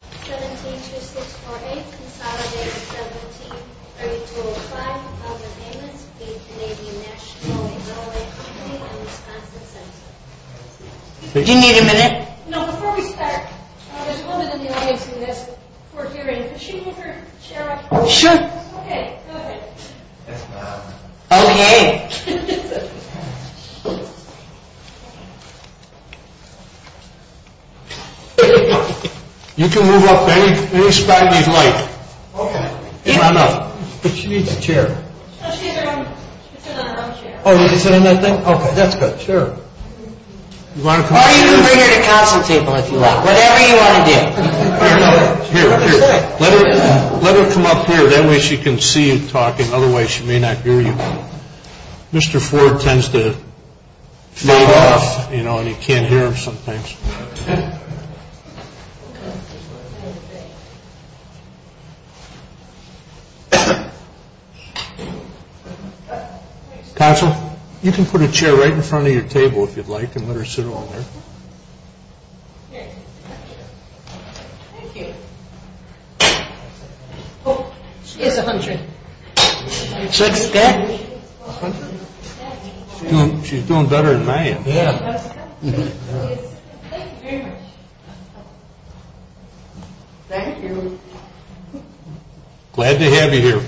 172648 Consolidated 173205 of the Payments of the Canadian National Railway Company and Wisconsin Central. Do you need a minute? No, before we start, there's a woman in the audience who is for hearing. Could she give her chair back? Sure. Okay, go ahead. Okay. Okay. You can move up any spot you'd like. Okay. Is that enough? But she needs a chair. No, she can sit on her own chair. Oh, you can sit on that thing? Okay, that's good. Sure. Or you can bring her to Council Table if you like. Whatever you want to do. Here, here. Let her come up here. That way she can see you talking. Otherwise, she may not hear you. Mr. Ford tends to fade off, you know, and you can't hear him sometimes. Okay. Council, you can put a chair right in front of your table if you'd like and let her sit on there. Okay. Thank you. Oh, she is 100. She's doing better than I am. Thank you very much. Thank you. Glad to have you here.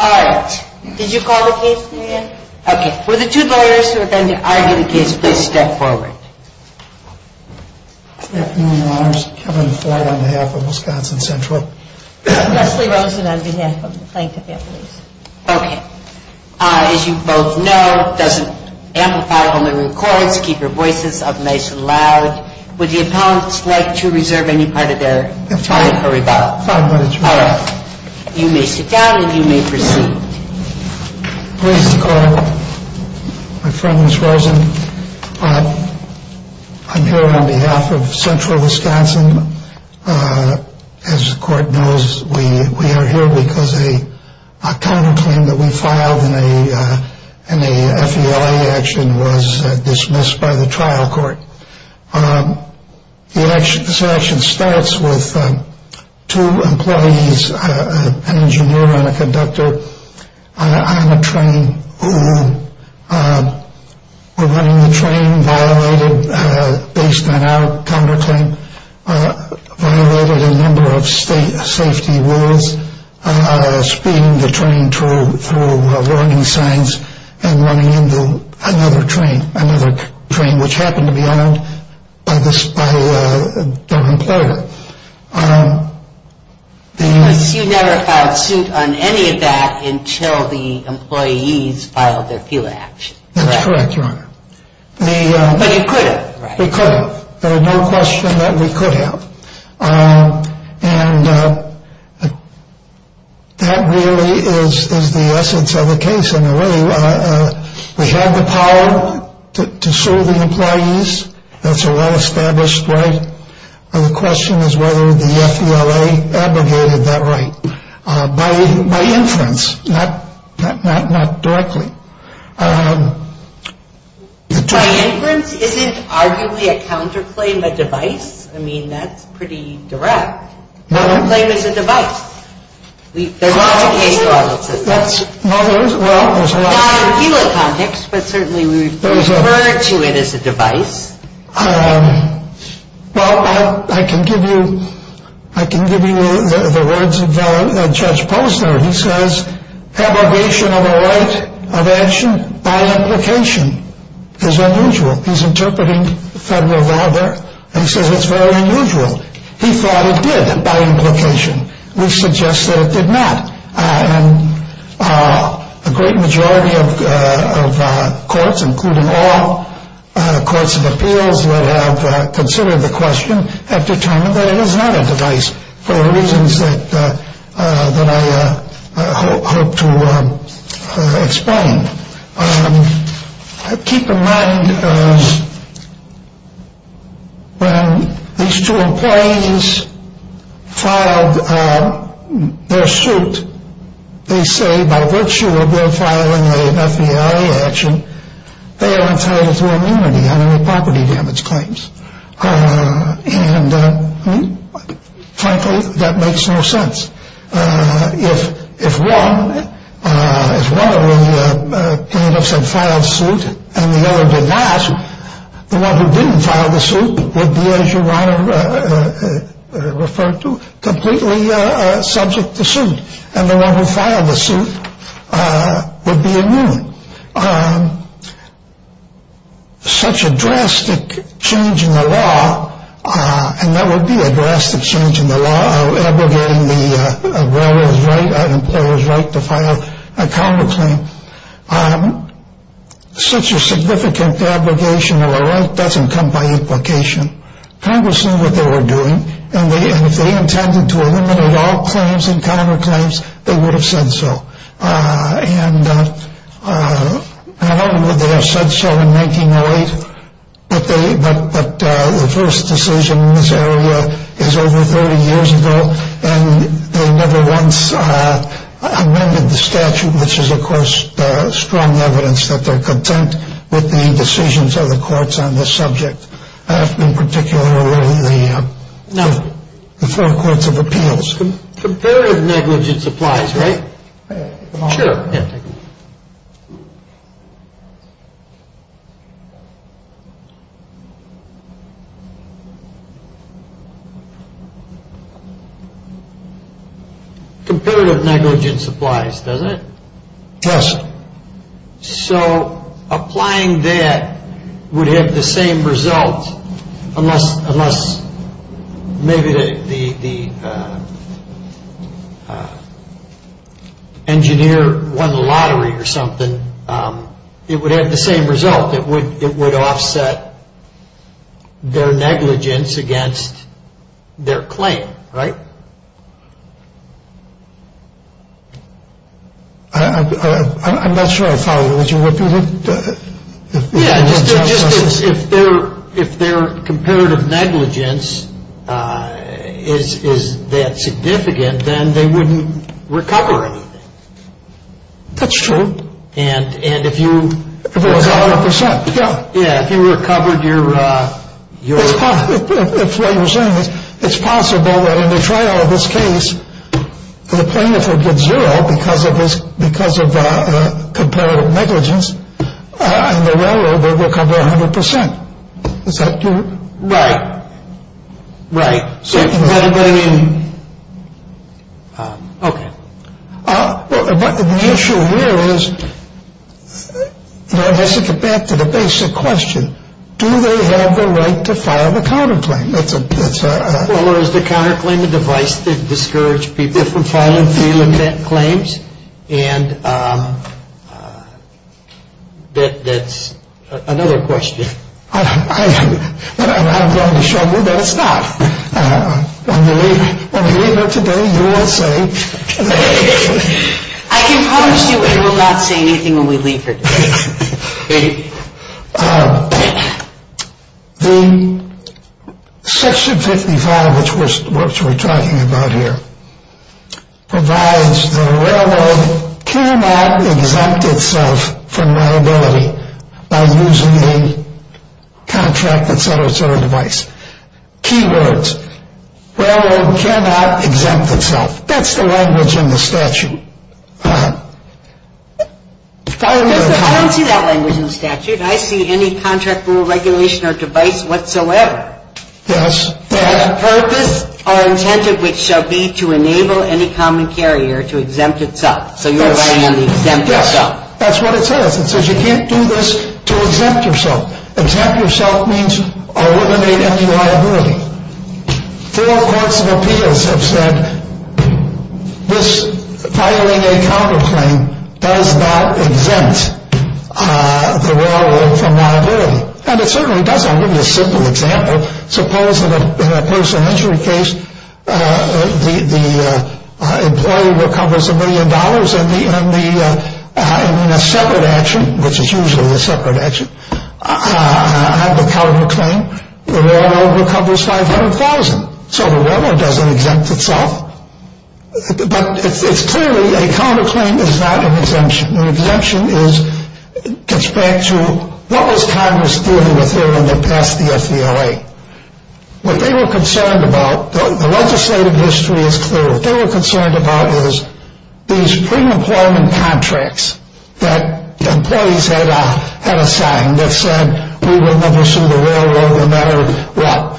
All right. Did you call the case, Mary Ann? Okay. Would the two lawyers who are going to argue the case please step forward? Good afternoon, Your Honors. Kevin Ford on behalf of Wisconsin Central. Leslie Rosen on behalf of the Planned Parenthood. Okay. As you both know, it doesn't amplify when it records. Keep your voices up nice and loud. Would the appellants like to reserve any part of their time for rebuttal? Fine. All right. You may sit down and you may proceed. Pleased to call. My friend, Ms. Rosen, I'm here on behalf of Central Wisconsin. As the court knows, we are here because a counterclaim that we filed in a FELA action was dismissed by the trial court. This action starts with two employees, an engineer and a conductor on a train who were running the train, violated, based on our counterclaim, violated a number of state safety rules, speeding the train through warning signs and running into another train, another train which happened to be owned by the employer. You never filed suit on any of that until the employees filed their FELA action, correct? That's correct, Your Honor. But you could have, right? We could have. There's no question that we could have. And that really is the essence of the case. And really, we have the power to sue the employees. That's a well-established right. The question is whether the FELA abrogated that right by inference, not directly. By inference isn't arguably a counterclaim a device? I mean, that's pretty direct. Counterclaim is a device. There's lots of cases where it looks like that. Well, there's a lot. Not in a FELA context, but certainly we refer to it as a device. Well, I can give you the words of Judge Posner. He says, abrogation of a right of action by implication is unusual. He's interpreting federal law there, and he says it's very unusual. He thought it did by implication. We suggest that it did not. And a great majority of courts, including all courts of appeals that have considered the question, have determined that it is not a device for the reasons that I hope to explain. Keep in mind, when these two employees filed their suit, they say by virtue of their filing an FBI action, they are entitled to immunity under the property damage claims. And, frankly, that makes no sense. If one of the plaintiffs had filed suit and the other did not, the one who didn't file the suit would be, as your Honor referred to, completely subject to suit. And the one who filed the suit would be immune. Such a drastic change in the law, and that would be a drastic change in the law of abrogating the employer's right to file a counterclaim. Such a significant abrogation of a right doesn't come by implication. Congress knew what they were doing, and if they intended to eliminate all claims and counterclaims, they would have said so. And I don't know that they have said so in 1908, but the first decision in this area is over 30 years ago, and they never once amended the statute, which is, of course, strong evidence that they're content with the decisions of the courts on this subject. In particular, the four courts of appeals. Competitive negligence applies, right? Sure. Competitive negligence applies, doesn't it? Yes. So applying that would have the same result, unless maybe the engineer won the lottery or something. It would have the same result. It would offset their negligence against their claim, right? I'm not sure if I would repeat it. Yeah, just if their competitive negligence is that significant, then they wouldn't recover anything. That's true. And if you... If it was 100 percent, yeah. Yeah, if you recovered your... If they were saying this, it's possible that in the trial of this case, the plaintiff would get zero because of his... because of competitive negligence, and the railroad would recover 100 percent. Is that true? Right. Right. So... Okay. Well, the issue here is, you know, just to get back to the basic question, do they have the right to file the counterclaim? That's a... Well, there's the counterclaim, the device to discourage people from filing felon claims, and that's another question. I'm going to show you that it's not. When we leave here today, you will say... I can promise you it will not say anything when we leave here today. The Section 55, which we're talking about here, provides that a railroad cannot exempt itself from liability by using a contract, et cetera, et cetera, device. Key words. Railroad cannot exempt itself. That's the language in the statute. I don't see that language in the statute. I see any contract rule regulation or device whatsoever. Yes. The purpose or intent of which shall be to enable any common carrier to exempt itself. So you're relying on the exempt yourself. Yes. That's what it says. It says you can't do this to exempt yourself. Exempt yourself means eliminate any liability. Four courts of appeals have said this filing a counterclaim does not exempt the railroad from liability. And it certainly doesn't. I'll give you a simple example. Suppose in a personal injury case, the employee recovers a million dollars in a separate action, which is usually a separate action. I have the counterclaim. The railroad recovers 500,000. So the railroad doesn't exempt itself. But it's clearly a counterclaim is not an exemption. An exemption gets back to what was Congress dealing with here when they passed the FVLA? What they were concerned about, the legislative history is clear. What they were concerned about is these pre-employment contracts that employees had assigned that said, we will never sue the railroad no matter what.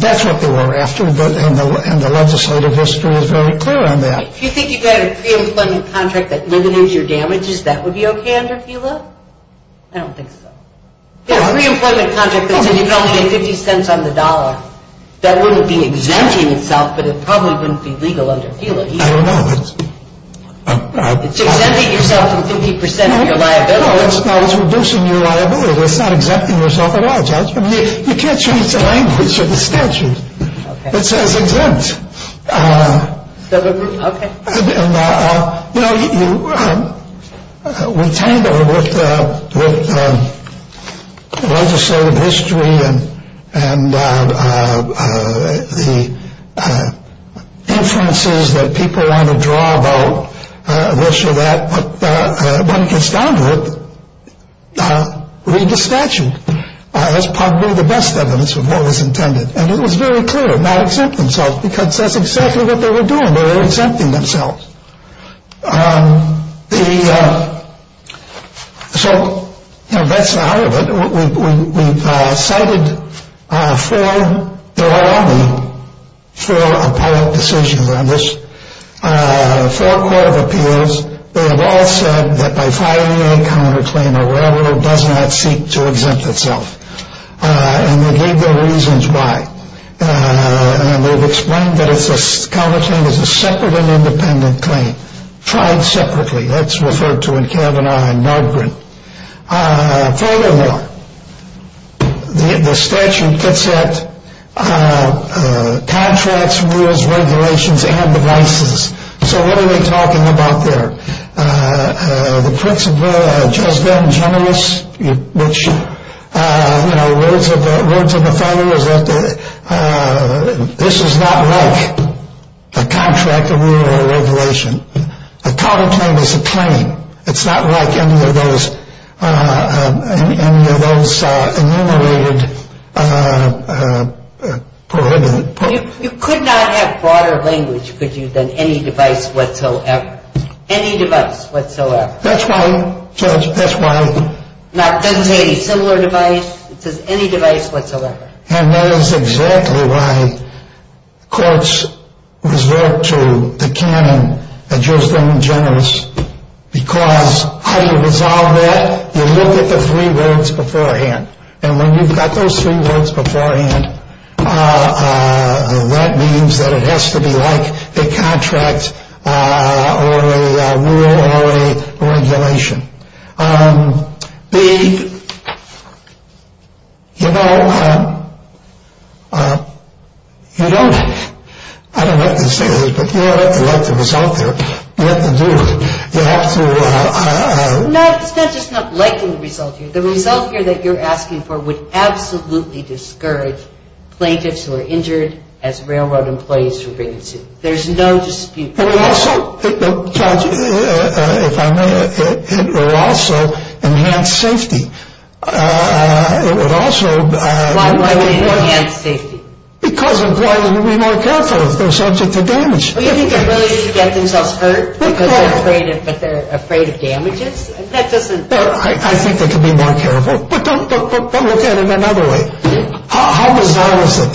That's what they were after, and the legislative history is very clear on that. If you think you've got a pre-employment contract that eliminates your damages, that would be okay under FVLA? I don't think so. Yeah, a pre-employment contract that said you could only pay 50 cents on the dollar, that wouldn't be exempting itself, but it probably wouldn't be legal under FVLA either. I don't know. It's exempting yourself from 50% of your liability. No, it's reducing your liability. It's not exempting yourself at all. You can't change the language of the statute that says exempt. Okay. You know, we tangle with legislative history and the inferences that people want to draw about this or that, but when it gets down to it, read the statute. That's probably the best evidence of what was intended, and it was very clear, because that's exactly what they were doing. They were exempting themselves. So, you know, that's the heart of it. We've cited four, there are only four appellate decisions on this, four court of appeals. They have all said that by filing a counterclaim, a railroad does not seek to exempt itself, and they gave their reasons why, and they've explained that a counterclaim is a separate and independent claim, tried separately. That's referred to in Kavanaugh and Nargrin. Furthermore, the statute gets at contracts, rules, regulations, and devices. So what are they talking about there? The principle just then, generous, which, you know, words of a fellow, is that this is not like a contract or rule or regulation. A counterclaim is a claim. It's not like any of those enumerated prohibitive. You could not have broader language, could you, than any device whatsoever. Any device whatsoever. That's why, Judge, that's why. Nargrin says a similar device. It says any device whatsoever. And that is exactly why courts resort to the canon that gives them generous, because how do you resolve that? You look at the three words beforehand. And when you've got those three words beforehand, that means that it has to be like a contract or a rule or a regulation. The, you know, you don't, I don't like to say this, but you don't have to like the result there. You have to do it. You have to. It's not just not liking the result here. The result here that you're asking for would absolutely discourage plaintiffs who are injured as railroad employees from being sued. There's no dispute. And also, Judge, if I may, it would also enhance safety. It would also. Why would it enhance safety? Because employers would be more careful if they're subject to damage. Well, you think they're willing to get themselves hurt because they're afraid of damages? That doesn't. I think they could be more careful. But look at it another way. How bizarre is it?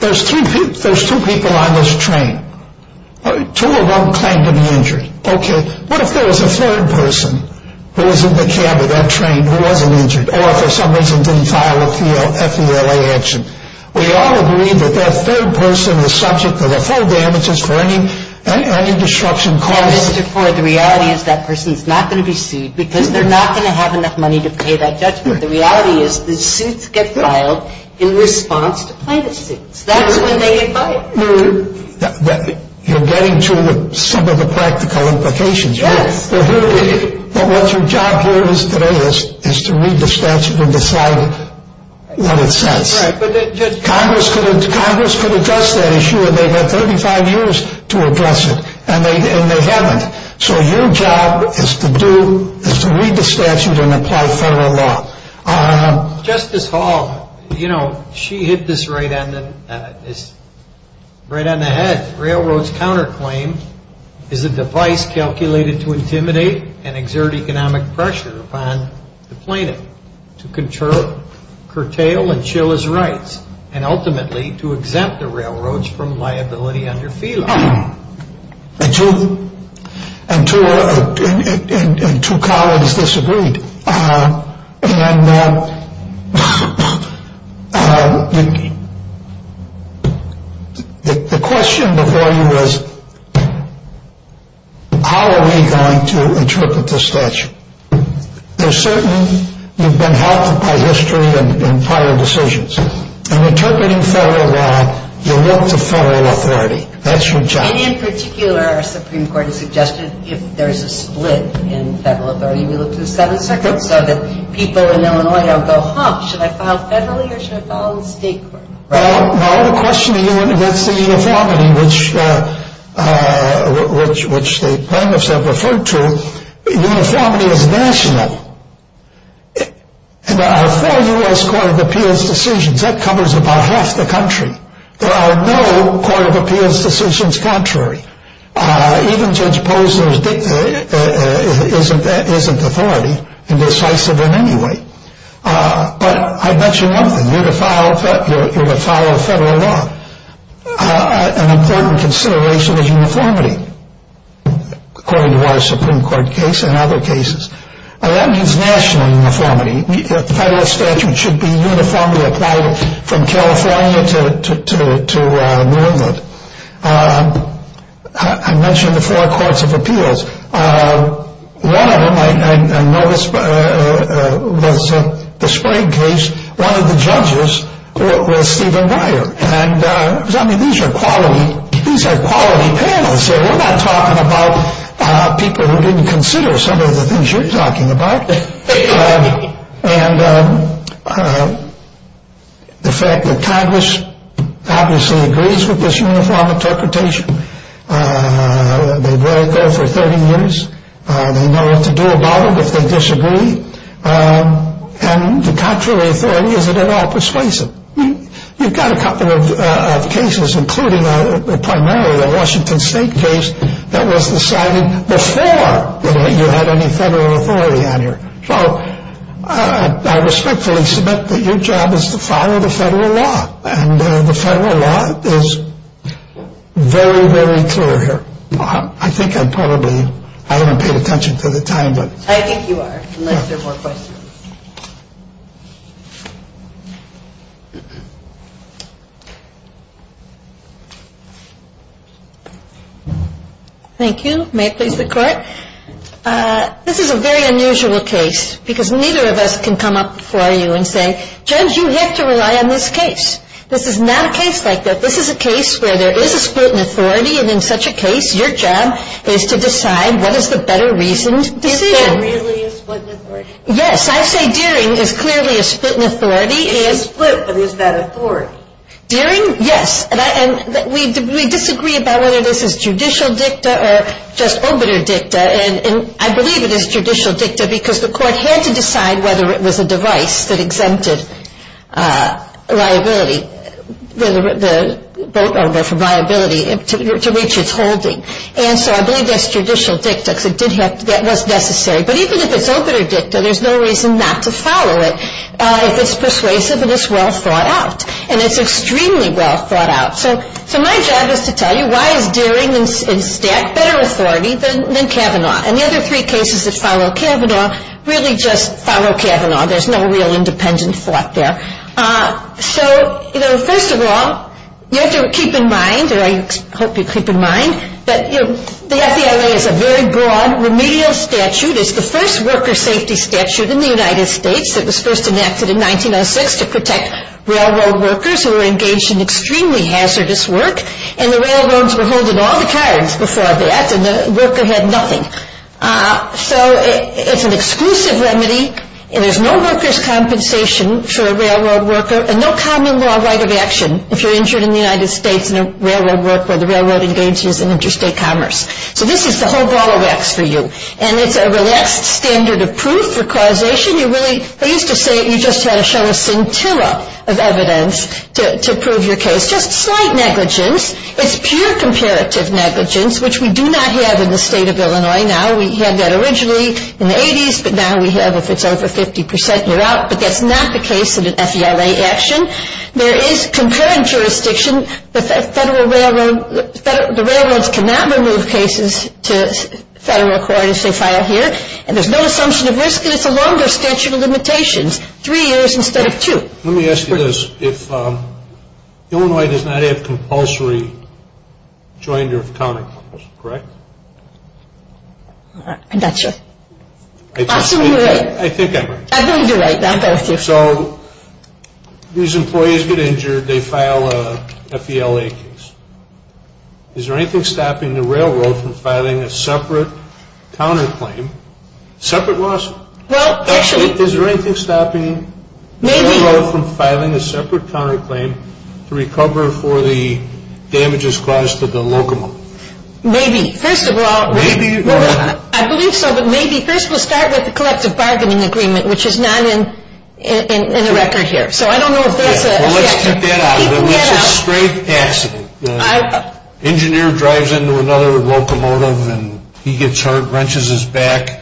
There's two people on this train. Two of them claim to be injured. Okay. What if there was a third person who was in the cab of that train who wasn't injured or, for some reason, didn't file a FELA action? We all agree that that third person is subject to the full damages for any destruction caused. And, therefore, the reality is that person is not going to be sued because they're not going to have enough money to pay that judgment. The reality is the suits get filed in response to plaintiffs' suits. That's when they get fired. You're getting to some of the practical implications. Yes. But what your job here today is to read the statute and decide what it says. Right. Congress could address that issue, and they've got 35 years to address it. And they haven't. So your job is to read the statute and apply federal law. Justice Hall, you know, she hit this right on the head. Railroads counterclaim is a device calculated to intimidate and exert economic pressure upon the plaintiff to curtail and chill his rights and, ultimately, to exempt the railroads from liability under FELA. And two colleagues disagreed. And the question before you is, how are we going to interpret the statute? There's certain you've been helped by history and prior decisions. In interpreting federal law, you look to federal authority. That's your job. And in particular, our Supreme Court has suggested if there is a split in federal authority, we look to the 7th Circuit so that people in Illinois don't go, huh, should I file federally or should I file in state court? Well, my other question to you, and that's the uniformity, which the plaintiffs have referred to, uniformity is national. And there are four U.S. Court of Appeals decisions. That covers about half the country. There are no Court of Appeals decisions contrary. Even Judge Posner isn't authority in decisive in any way. But I bet you nothing. You're to file federal law. An important consideration is uniformity. According to our Supreme Court case and other cases. That means national uniformity. Federal statute should be uniformly applied from California to New England. I mentioned the four Courts of Appeals. One of them I noticed was the Sprague case. One of the judges was Stephen Breyer. I mean, these are quality panels here. We're not talking about people who didn't consider some of the things you're talking about. And the fact that Congress obviously agrees with this uniform interpretation. They've read it there for 30 years. They know what to do about it if they disagree. And the contrary authority isn't at all persuasive. I mean, you've got a couple of cases, including primarily the Washington State case that was decided before you had any federal authority on here. So I respectfully submit that your job is to follow the federal law. And the federal law is very, very clear here. I think I probably haven't paid attention to the time. I think you are, unless there are more questions. Thank you. May it please the Court. This is a very unusual case because neither of us can come up before you and say, Judge, you have to rely on this case. This is not a case like that. This is a case where there is a split in authority. And in such a case, your job is to decide what is the better reasoned decision. Is there really a split in authority? Yes. I say Deering is clearly a split in authority. It is split, but is that authority? Deering, yes. And we disagree about whether this is judicial dicta or just obiter dicta. And I believe it is judicial dicta because the Court had to decide whether it was a device that exempted liability. The vote over for liability to reach its holding. And so I believe that's judicial dicta because it did have to. That was necessary. But even if it's obiter dicta, there's no reason not to follow it if it's persuasive and it's well thought out. And it's extremely well thought out. So my job is to tell you why is Deering in stat better authority than Kavanaugh. And the other three cases that follow Kavanaugh really just follow Kavanaugh. There's no real independent thought there. So, you know, first of all, you have to keep in mind, or I hope you keep in mind, that the FDLA has a very broad remedial statute. It's the first worker safety statute in the United States. It was first enacted in 1906 to protect railroad workers who were engaged in extremely hazardous work. And the railroads were holding all the cards before that, and the worker had nothing. So it's an exclusive remedy, and there's no workers' compensation for a railroad worker, and no common law right of action if you're injured in the United States in a railroad work where the railroad engages in interstate commerce. So this is the whole ball of wax for you. And it's a relaxed standard of proof for causation. You really, I used to say you just had to show a scintilla of evidence to prove your case. Just slight negligence. It's pure comparative negligence, which we do not have in the state of Illinois now. We had that originally in the 80s, but now we have, if it's over 50%, you're out. But that's not the case in an FDLA action. There is concurrent jurisdiction. The railroads cannot remove cases to federal court if they file here. And there's no assumption of risk, and it's a longer statute of limitations, three years instead of two. Let me ask you this. If Illinois does not have compulsory joinder of counterclaims, correct? I'm not sure. I'll assume you're right. I think I'm right. I think you're right. So these employees get injured. They file a FDLA case. Is there anything stopping the railroad from filing a separate counterclaim, separate lawsuit? Is there anything stopping the railroad from filing a separate counterclaim to recover for the damages caused to the locomotive? Maybe. First of all, I believe so, but maybe. First, we'll start with the collective bargaining agreement, which is not in the record here. So I don't know if that's a statement. Well, let's keep that out of it. That's a straight accident. The engineer drives into another locomotive, and he gets hurt, wrenches his back,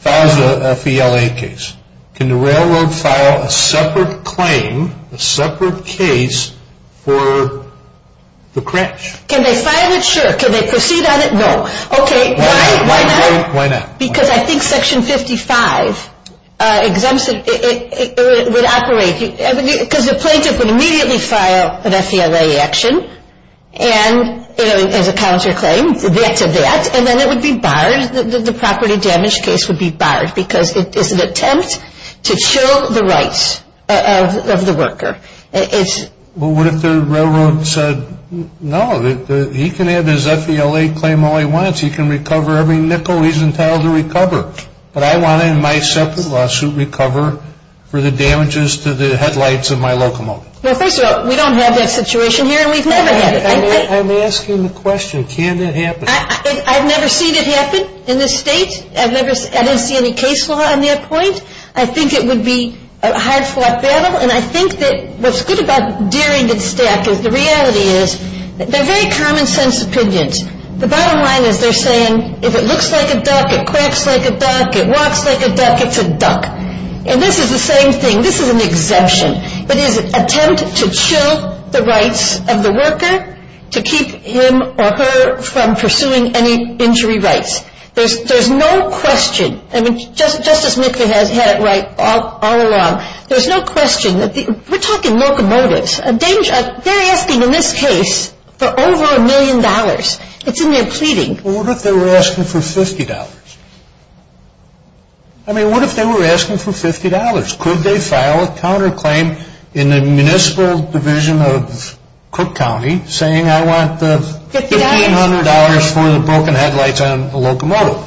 files a FDLA case. Can the railroad file a separate claim, a separate case for the crash? Can they file it? Sure. Can they proceed on it? No. Okay. Why not? Why not? Because I think Section 55 exempts it. It would operate because the plaintiff would immediately file an FDLA action as a counterclaim, that to that, and then it would be barred, the property damage case would be barred because it's an attempt to show the rights of the worker. But what if the railroad said, no, he can have his FDLA claim all he wants. He can recover every nickel. He's entitled to recover. But I want, in my separate lawsuit, recover for the damages to the headlights of my locomotive. Well, first of all, we don't have that situation here, and we've never had it. I'm asking the question. Can that happen? I've never seen it happen in this state. I didn't see any case law on that point. I think it would be a hard-fought battle. And I think that what's good about Daring and Stack is the reality is they're very common-sense opinions. The bottom line is they're saying, if it looks like a duck, it quacks like a duck, it walks like a duck, it's a duck. And this is the same thing. This is an exemption. It is an attempt to chill the rights of the worker to keep him or her from pursuing any injury rights. There's no question. I mean, Justice McVeigh has had it right all along. There's no question. We're talking locomotives. They're asking in this case for over a million dollars. It's in their pleading. Well, what if they were asking for $50? I mean, what if they were asking for $50? Could they file a counterclaim in the municipal division of Cook County saying, I want the $1,500 for the broken headlights on a locomotive?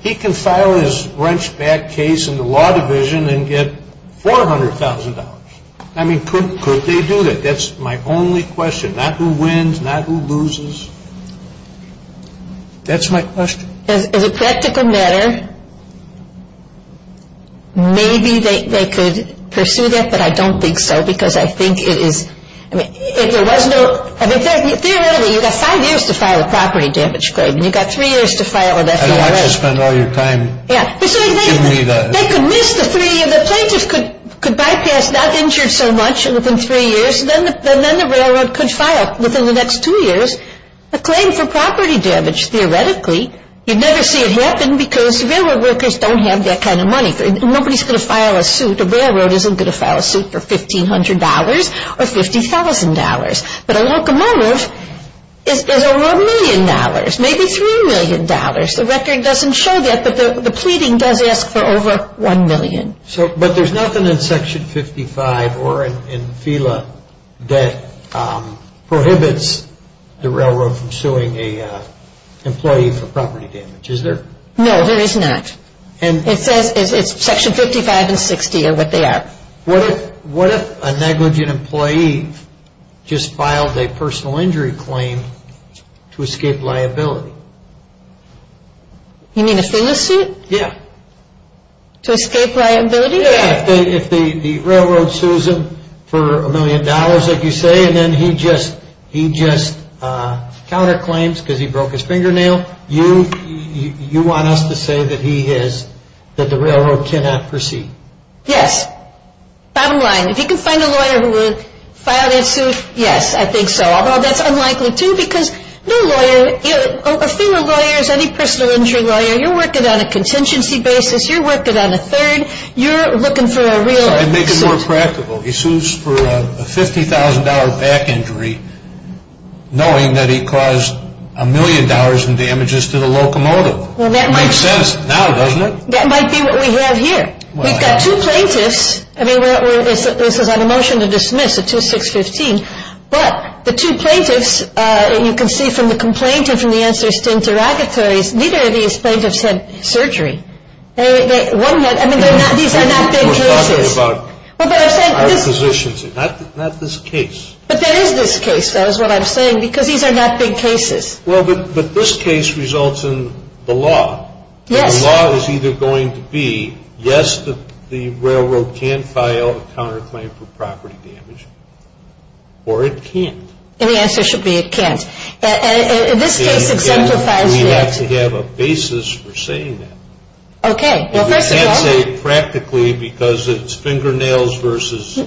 He can file his wrenched back case in the law division and get $400,000. I mean, could they do that? That's my only question. Not who wins, not who loses. That's my question. As a practical matter, maybe they could pursue that, but I don't think so because I think it is – I mean, if there was no – I mean, theoretically, you've got five years to file a property damage claim and you've got three years to file an FBOA. I don't want you to spend all your time giving me the – They could miss the three – the plaintiff could bypass not injured so much within three years and then the railroad could file within the next two years a claim for property damage. Theoretically, you'd never see it happen because railroad workers don't have that kind of money. Nobody's going to file a suit. A railroad isn't going to file a suit for $1,500 or $50,000. But a locomotive is over a million dollars, maybe $3 million. The record doesn't show that, but the pleading does ask for over $1 million. But there's nothing in Section 55 or in FELA that prohibits the railroad from suing an employee for property damage, is there? No, there is not. It says it's Section 55 and 60 are what they are. What if a negligent employee just filed a personal injury claim to escape liability? You mean a FELA suit? Yeah. To escape liability? Yeah, if the railroad sues him for a million dollars, like you say, and then he just counterclaims because he broke his fingernail, you want us to say that he has – that the railroad cannot proceed? Yes. Bottom line, if you can find a lawyer who would file that suit, yes, I think so. Although that's unlikely, too, because no lawyer – a FELA lawyer is any personal injury lawyer. You're working on a contingency basis. You're working on a third. You're looking for a real suit. It makes it more practical. He sues for a $50,000 back injury knowing that he caused a million dollars in damages to the locomotive. Well, that might – Makes sense now, doesn't it? That might be what we have here. We've got two plaintiffs. I mean, this is on a motion to dismiss at 2-6-15. But the two plaintiffs, you can see from the complaint and from the answers to interrogatories, neither of these plaintiffs had surgery. I mean, these are not big cases. We're talking about higher positions here, not this case. But there is this case, that is what I'm saying, because these are not big cases. Well, but this case results in the law. Yes. The law is either going to be, yes, the railroad can file a counterclaim for property damage, or it can't. And the answer should be it can't. And this case exemplifies that. We have to have a basis for saying that. Okay. Well, first of all – You can't say it practically because it's fingernails versus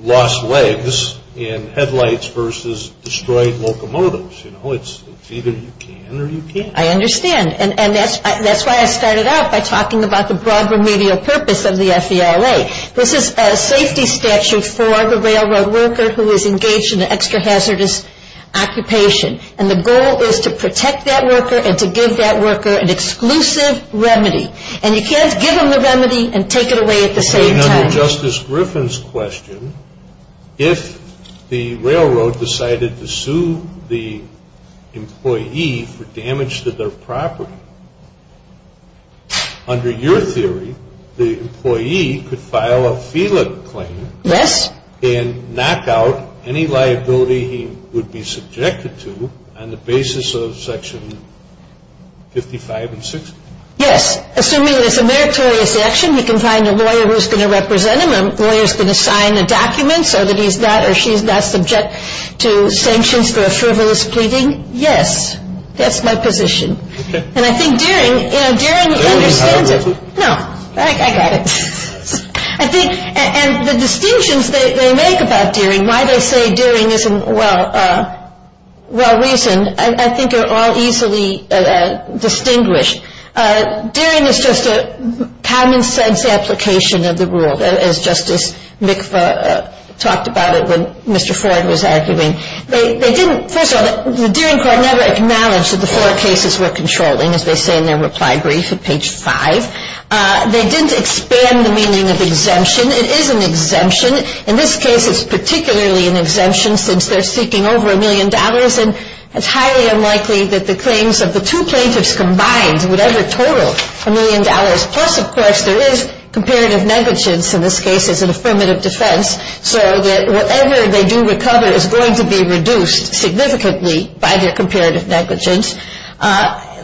lost legs and headlights versus destroyed locomotives. You know, it's either you can or you can't. I understand. And that's why I started out by talking about the broad remedial purpose of the FELA. This is a safety statute for the railroad worker who is engaged in an extra-hazardous occupation. And the goal is to protect that worker and to give that worker an exclusive remedy. And you can't give them the remedy and take it away at the same time. And under Justice Griffin's question, if the railroad decided to sue the employee for damage to their property, under your theory, the employee could file a FELA claim. Yes. And knock out any liability he would be subjected to on the basis of Section 55 and 60. Yes. Assuming there's a meritorious action, he can find a lawyer who's going to represent him. A lawyer's going to sign a document so that he's not or she's not subject to sanctions for a frivolous pleading. Yes. That's my position. Okay. And I think Deering – you know, Deering understands it. They don't mean however – No. I got it. I think – and the distinctions they make about Deering, why they say Deering isn't well – well-reasoned, I think are all easily distinguished. Deering is just a common-sense application of the rule, as Justice Mikva talked about it when Mr. Ford was arguing. They didn't – first of all, the Deering Court never acknowledged that the four cases were controlling, as they say in their reply brief at page 5. They didn't expand the meaning of exemption. It is an exemption. In this case, it's particularly an exemption since they're seeking over a million dollars, and it's highly unlikely that the claims of the two plaintiffs combined would ever total a million dollars. Plus, of course, there is comparative negligence in this case as an affirmative defense, so that whatever they do recover is going to be reduced significantly by their comparative negligence.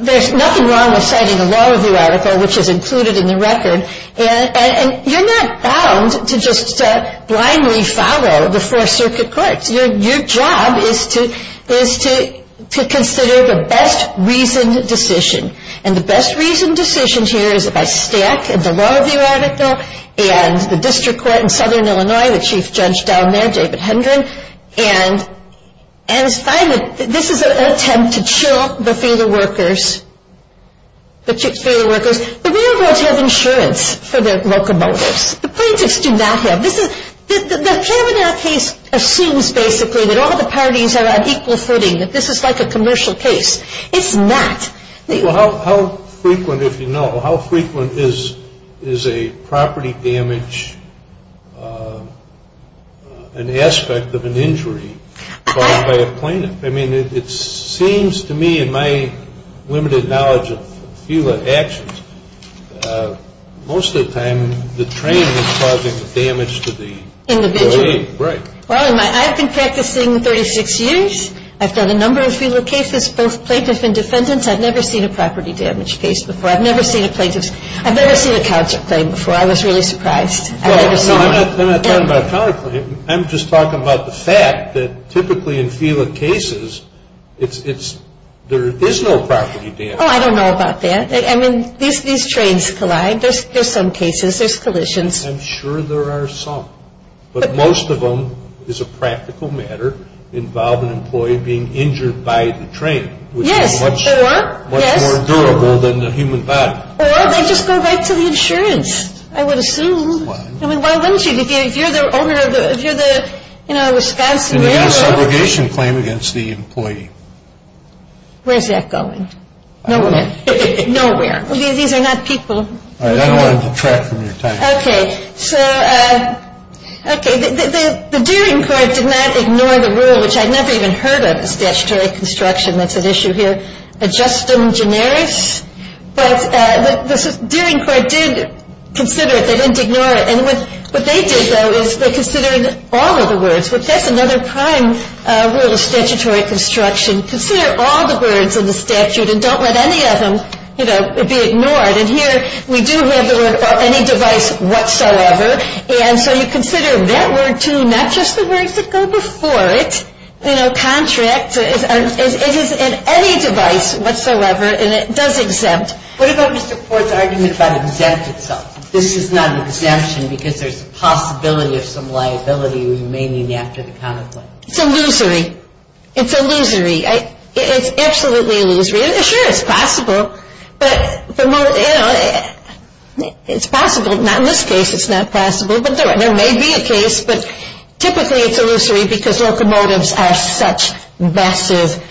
There's nothing wrong with citing a law review article, which is included in the record, and you're not bound to just blindly follow the Four Circuit Courts. Your job is to consider the best-reasoned decision, and the best-reasoned decision here is about Stack and the law review article and the district court in Southern Illinois, the chief judge down there, David Hendren. And it's fine that – this is an attempt to chill the failure workers, the failure workers, but we don't want to have insurance for the locomotives. The plaintiffs do not have – this is – the Fremont case assumes, basically, that all the parties are on equal footing, that this is like a commercial case. It's not. Well, how frequent, if you know, how frequent is a property damage, an aspect of an injury caused by a plaintiff? I mean, it seems to me, in my limited knowledge of a few actions, most of the time, the train is causing the damage to the train. Individually. Right. Well, in my – I've been practicing 36 years. I've done a number of FELA cases, both plaintiff and defendant. I've never seen a property damage case before. I've never seen a plaintiff's – I've never seen a counterclaim before. I was really surprised. Well, I'm not talking about a counterclaim. I'm just talking about the fact that, typically, in FELA cases, it's – there is no property damage. Oh, I don't know about that. I mean, these trains collide. There's some cases. There's collisions. I'm sure there are some. But most of them, as a practical matter, involve an employee being injured by the train. Yes. Or, yes. Which is much more durable than the human body. Or they just go right to the insurance, I would assume. Why? I mean, why wouldn't you? If you're the owner of the – if you're the, you know, Wisconsin Railroad. And you get a segregation claim against the employee. Where's that going? Nowhere. Nowhere. These are not people. All right. I don't want to detract from your time. Okay. So, okay. The Dealing Court did not ignore the rule, which I'd never even heard of, statutory construction. That's an issue here. Ad justum generis. But the Dealing Court did consider it. They didn't ignore it. And what they did, though, is they considered all of the words, which that's another prime rule of statutory construction. Consider all the words in the statute and don't let any of them, you know, be ignored. And here we do have the word, or any device whatsoever. And so you consider that word, too, not just the words that go before it. You know, contract. It is in any device whatsoever, and it does exempt. What about Mr. Ford's argument about exempt itself? This is not an exemption because there's a possibility of some liability remaining after the counterclaim. It's illusory. It's illusory. It's absolutely illusory. Sure, it's possible. But, you know, it's possible. Not in this case it's not possible, but there may be a case. But typically it's illusory because locomotives are such massive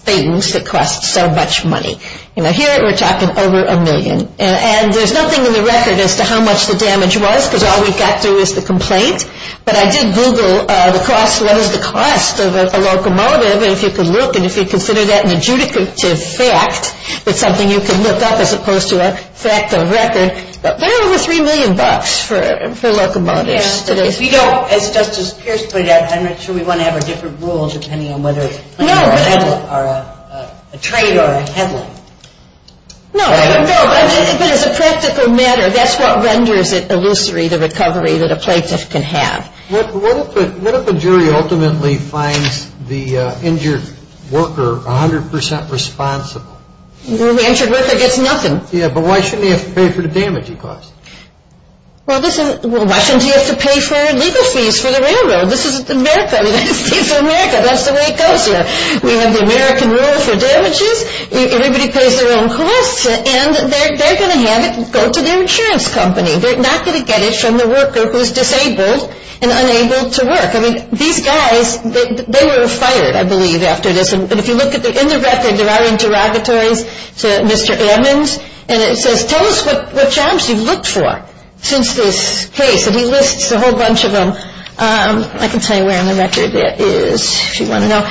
things that cost so much money. You know, here we're talking over a million. And there's nothing in the record as to how much the damage was because all we got to is the complaint. But I did Google the cost. What is the cost of a locomotive? And if you can look and if you consider that an adjudicative fact, it's something you can look up as opposed to a fact of record. They're over 3 million bucks for locomotives. Yes, but if you don't, as Justice Pierce put it out, I'm not sure we want to have our different rules depending on whether it's money or a trade or a headline. No, no, but as a practical matter, that's what renders it illusory, the recovery that a plaintiff can have. What if a jury ultimately finds the injured worker 100% responsible? The injured worker gets nothing. Yeah, but why shouldn't he have to pay for the damage he caused? Well, why shouldn't he have to pay for legal fees for the railroad? This is America. That's the way it goes here. We have the American rule for damages. Everybody pays their own costs, and they're going to have it go to their insurance company. They're not going to get it from the worker who is disabled and unable to work. I mean, these guys, they were fired, I believe, after this. And if you look in the record, there are interrogatories to Mr. Edmonds, and it says, tell us what jobs you've looked for since this case. And he lists a whole bunch of them. I can tell you where on the record it is if you want to know.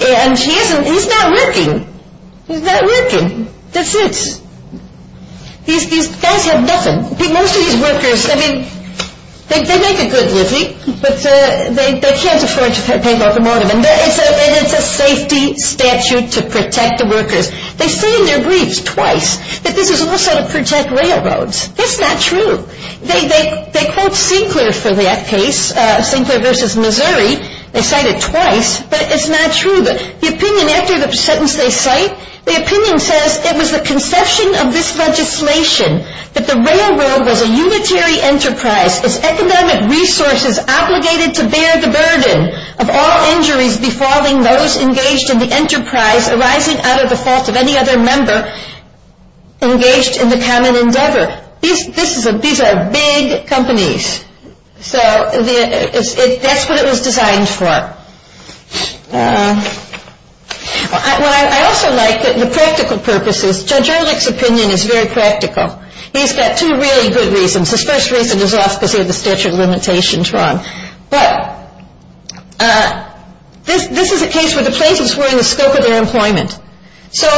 And he's not working. He's not working. That's it. These guys have nothing. Most of these workers, I mean, they make a good living, but they can't afford to pay for automotive, and it's a safety statute to protect the workers. They say in their briefs twice that this is also to protect railroads. That's not true. They quote Sinclair for that case, Sinclair v. Missouri. They cite it twice, but it's not true. The opinion after the sentence they cite, the opinion says, it was the conception of this legislation that the railroad was a unitary enterprise, its economic resources obligated to bear the burden of all injuries befalling those engaged in the enterprise arising out of the fault of any other member engaged in the common endeavor. These are big companies. So that's what it was designed for. What I also like, the practical purposes, Judge Erlich's opinion is very practical. He's got two really good reasons. His first reason is off because he had the statute of limitations wrong. But this is a case where the plaintiffs were in the scope of their employment. So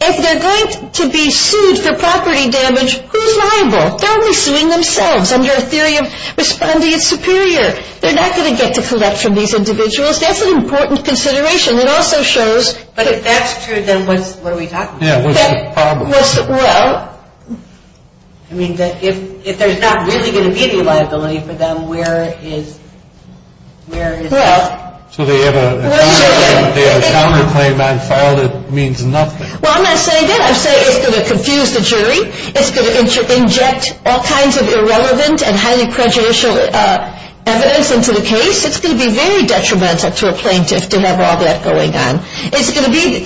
if they're going to be sued for property damage, who's liable? They're only suing themselves under a theory of respondeat superior. They're not going to get to collect from these individuals. That's an important consideration. It also shows. But if that's true, then what are we talking about? Yeah, what's the problem? Well, I mean, if there's not really going to be any liability for them, where is that? So they have a counterclaim on fault. It means nothing. Well, I'm not saying that. I'm saying it's going to confuse the jury. It's going to inject all kinds of irrelevant and highly prejudicial evidence into the case. It's going to be very detrimental to a plaintiff to have all that going on.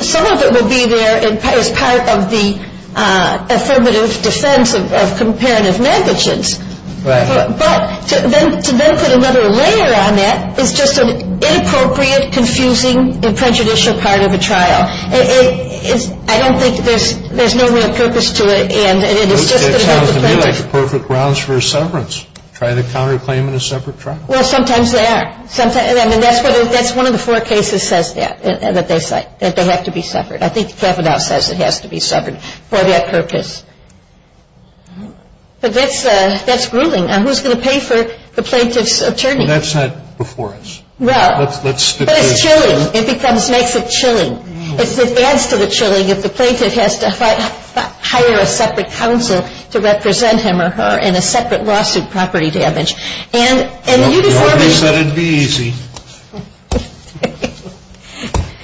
Some of it will be there as part of the affirmative defense of comparative negligence. Right. But to then put another layer on that is just an inappropriate, confusing and prejudicial part of a trial. I don't think there's no real purpose to it. And it's just going to have to play out. That sounds to me like the perfect grounds for a severance, trying to counterclaim in a separate trial. Well, sometimes they are. And that's one of the four cases that says that, that they have to be severed. I think Kavanaugh says it has to be severed for that purpose. But that's grueling. Now, who's going to pay for the plaintiff's attorney? Well, that's not before us. Well, but it's chilling. It makes it chilling. It adds to the chilling if the plaintiff has to hire a separate counsel to represent him or her in a separate lawsuit, property damage. And uniformity. I thought you said it would be easy.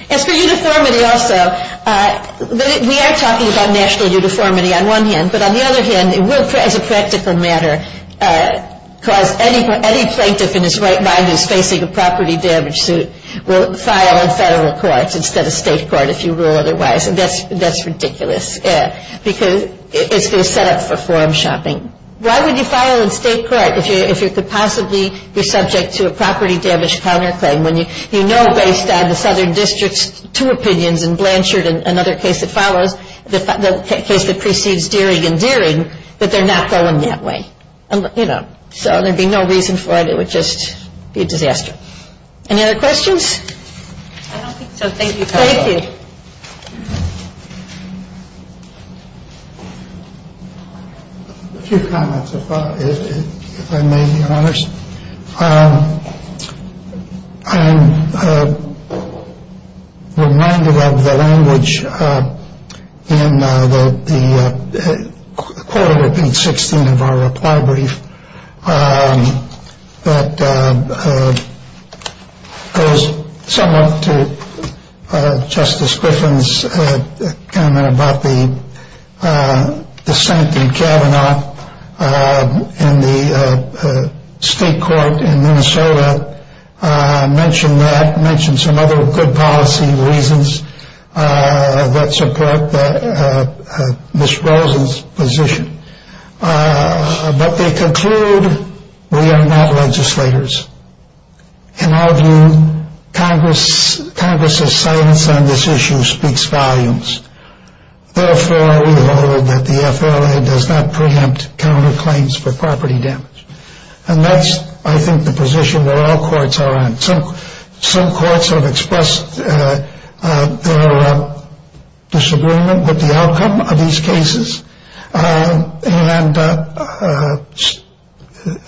As for uniformity also, we are talking about national uniformity on one hand. But on the other hand, it will, as a practical matter, cause any plaintiff in his right mind who is facing a property damage suit will file in federal courts instead of state court if you rule otherwise. And that's ridiculous. Because it's going to set up for form shopping. Why would you file in state court if you could possibly be subject to a property damage counterclaim when you know based on the Southern District's two opinions and Blanchard and another case that follows, the case that precedes Deering and Deering, that they're not going that way. So there would be no reason for it. It would just be a disaster. Any other questions? I don't think so. Thank you, counsel. Thank you. A few comments, if I may be honest. I'm reminded of the language in the quote, I repeat, 16th of our reply brief that goes somewhat to Justice Griffin's comment about the scent in Kavanaugh and the state court in Minnesota mentioned that, mentioned some other good policy reasons that support Ms. Rosen's position. But they conclude, we are not legislators. In our view, Congress's silence on this issue speaks volumes. Therefore, we hold that the FLA does not preempt counterclaims for property damage. And that's, I think, the position that all courts are in. Some courts have expressed their disagreement with the outcome of these cases. And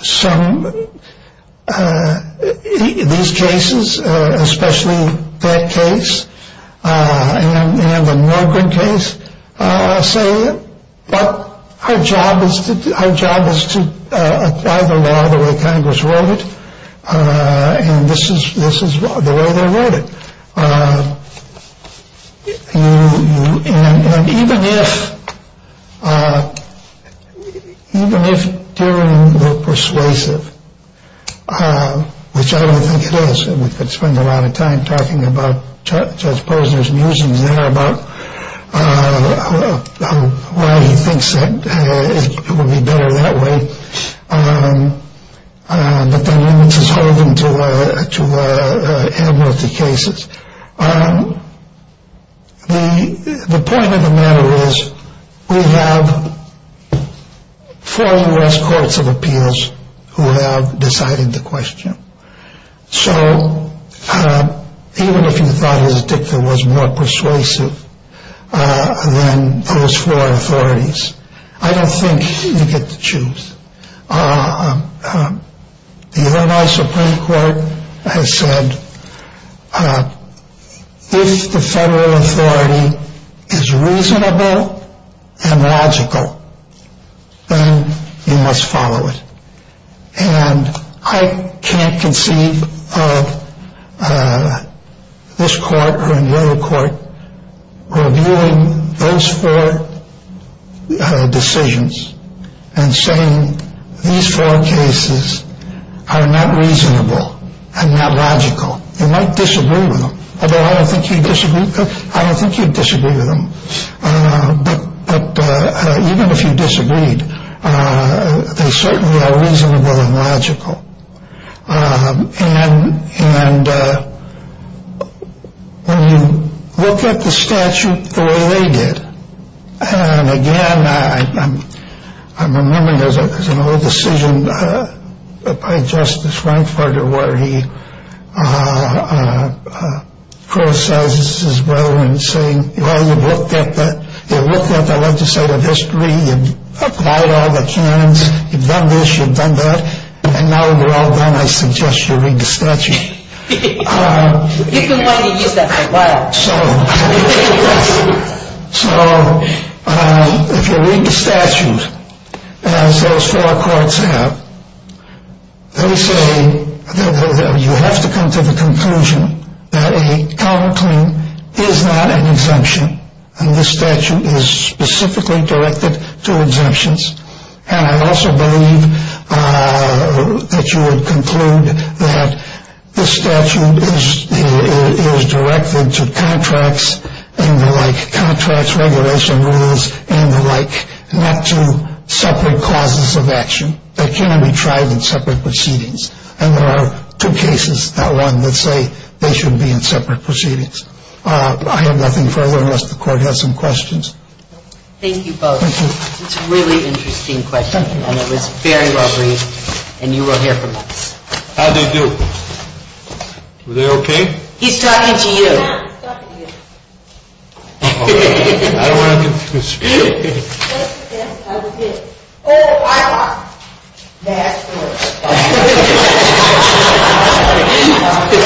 some of these cases, especially that case and the Milgram case, say, but our job is to do our job is to apply the law the way Congress wrote it. And this is this is the way they wrote it. And even if even if they were persuasive, which I don't think it is, we could spend a lot of time talking about Judge Posner's musings there about why he thinks it would be better that way. But that limits his hold to amnesty cases. The point of the matter is we have four U.S. courts of appeals who have decided to question. So even if you thought his dicta was more persuasive than those four authorities, I don't think you get the truth. The Supreme Court has said if the federal authority is reasonable and logical, then you must follow it. And I can't conceive of this court or another court reviewing those four decisions and saying these four cases are not reasonable and not logical. You might disagree with them, although I don't think you disagree. I don't think you disagree with them. But even if you disagreed, they certainly are reasonable and logical. And when you look at the statute the way they did. And again, I'm remembering there's an old decision by Justice Frankfurter where he criticizes his brother in saying, well, you've looked at the legislative history, you've applied all the canons, you've done this, you've done that, and now they're all done, I suggest you read the statute. You've been wanting to use that for a while. So if you read the statute as those four courts have, they say you have to come to the conclusion that a counterclaim is not an exemption. And this statute is specifically directed to exemptions. And I also believe that you would conclude that this statute is directed to contracts and the like, contracts, regulation rules and the like, not to separate causes of action that can be tried in separate proceedings. And there are two cases, not one, that say they should be in separate proceedings. I have nothing further unless the court has some questions. Thank you both. It's a really interesting question. And it was very well read. And you will hear from us. How'd they do? Were they okay? He's talking to you. I'm not talking to you. I don't want to confuse you. Oh, I lost. That's good. Thank you.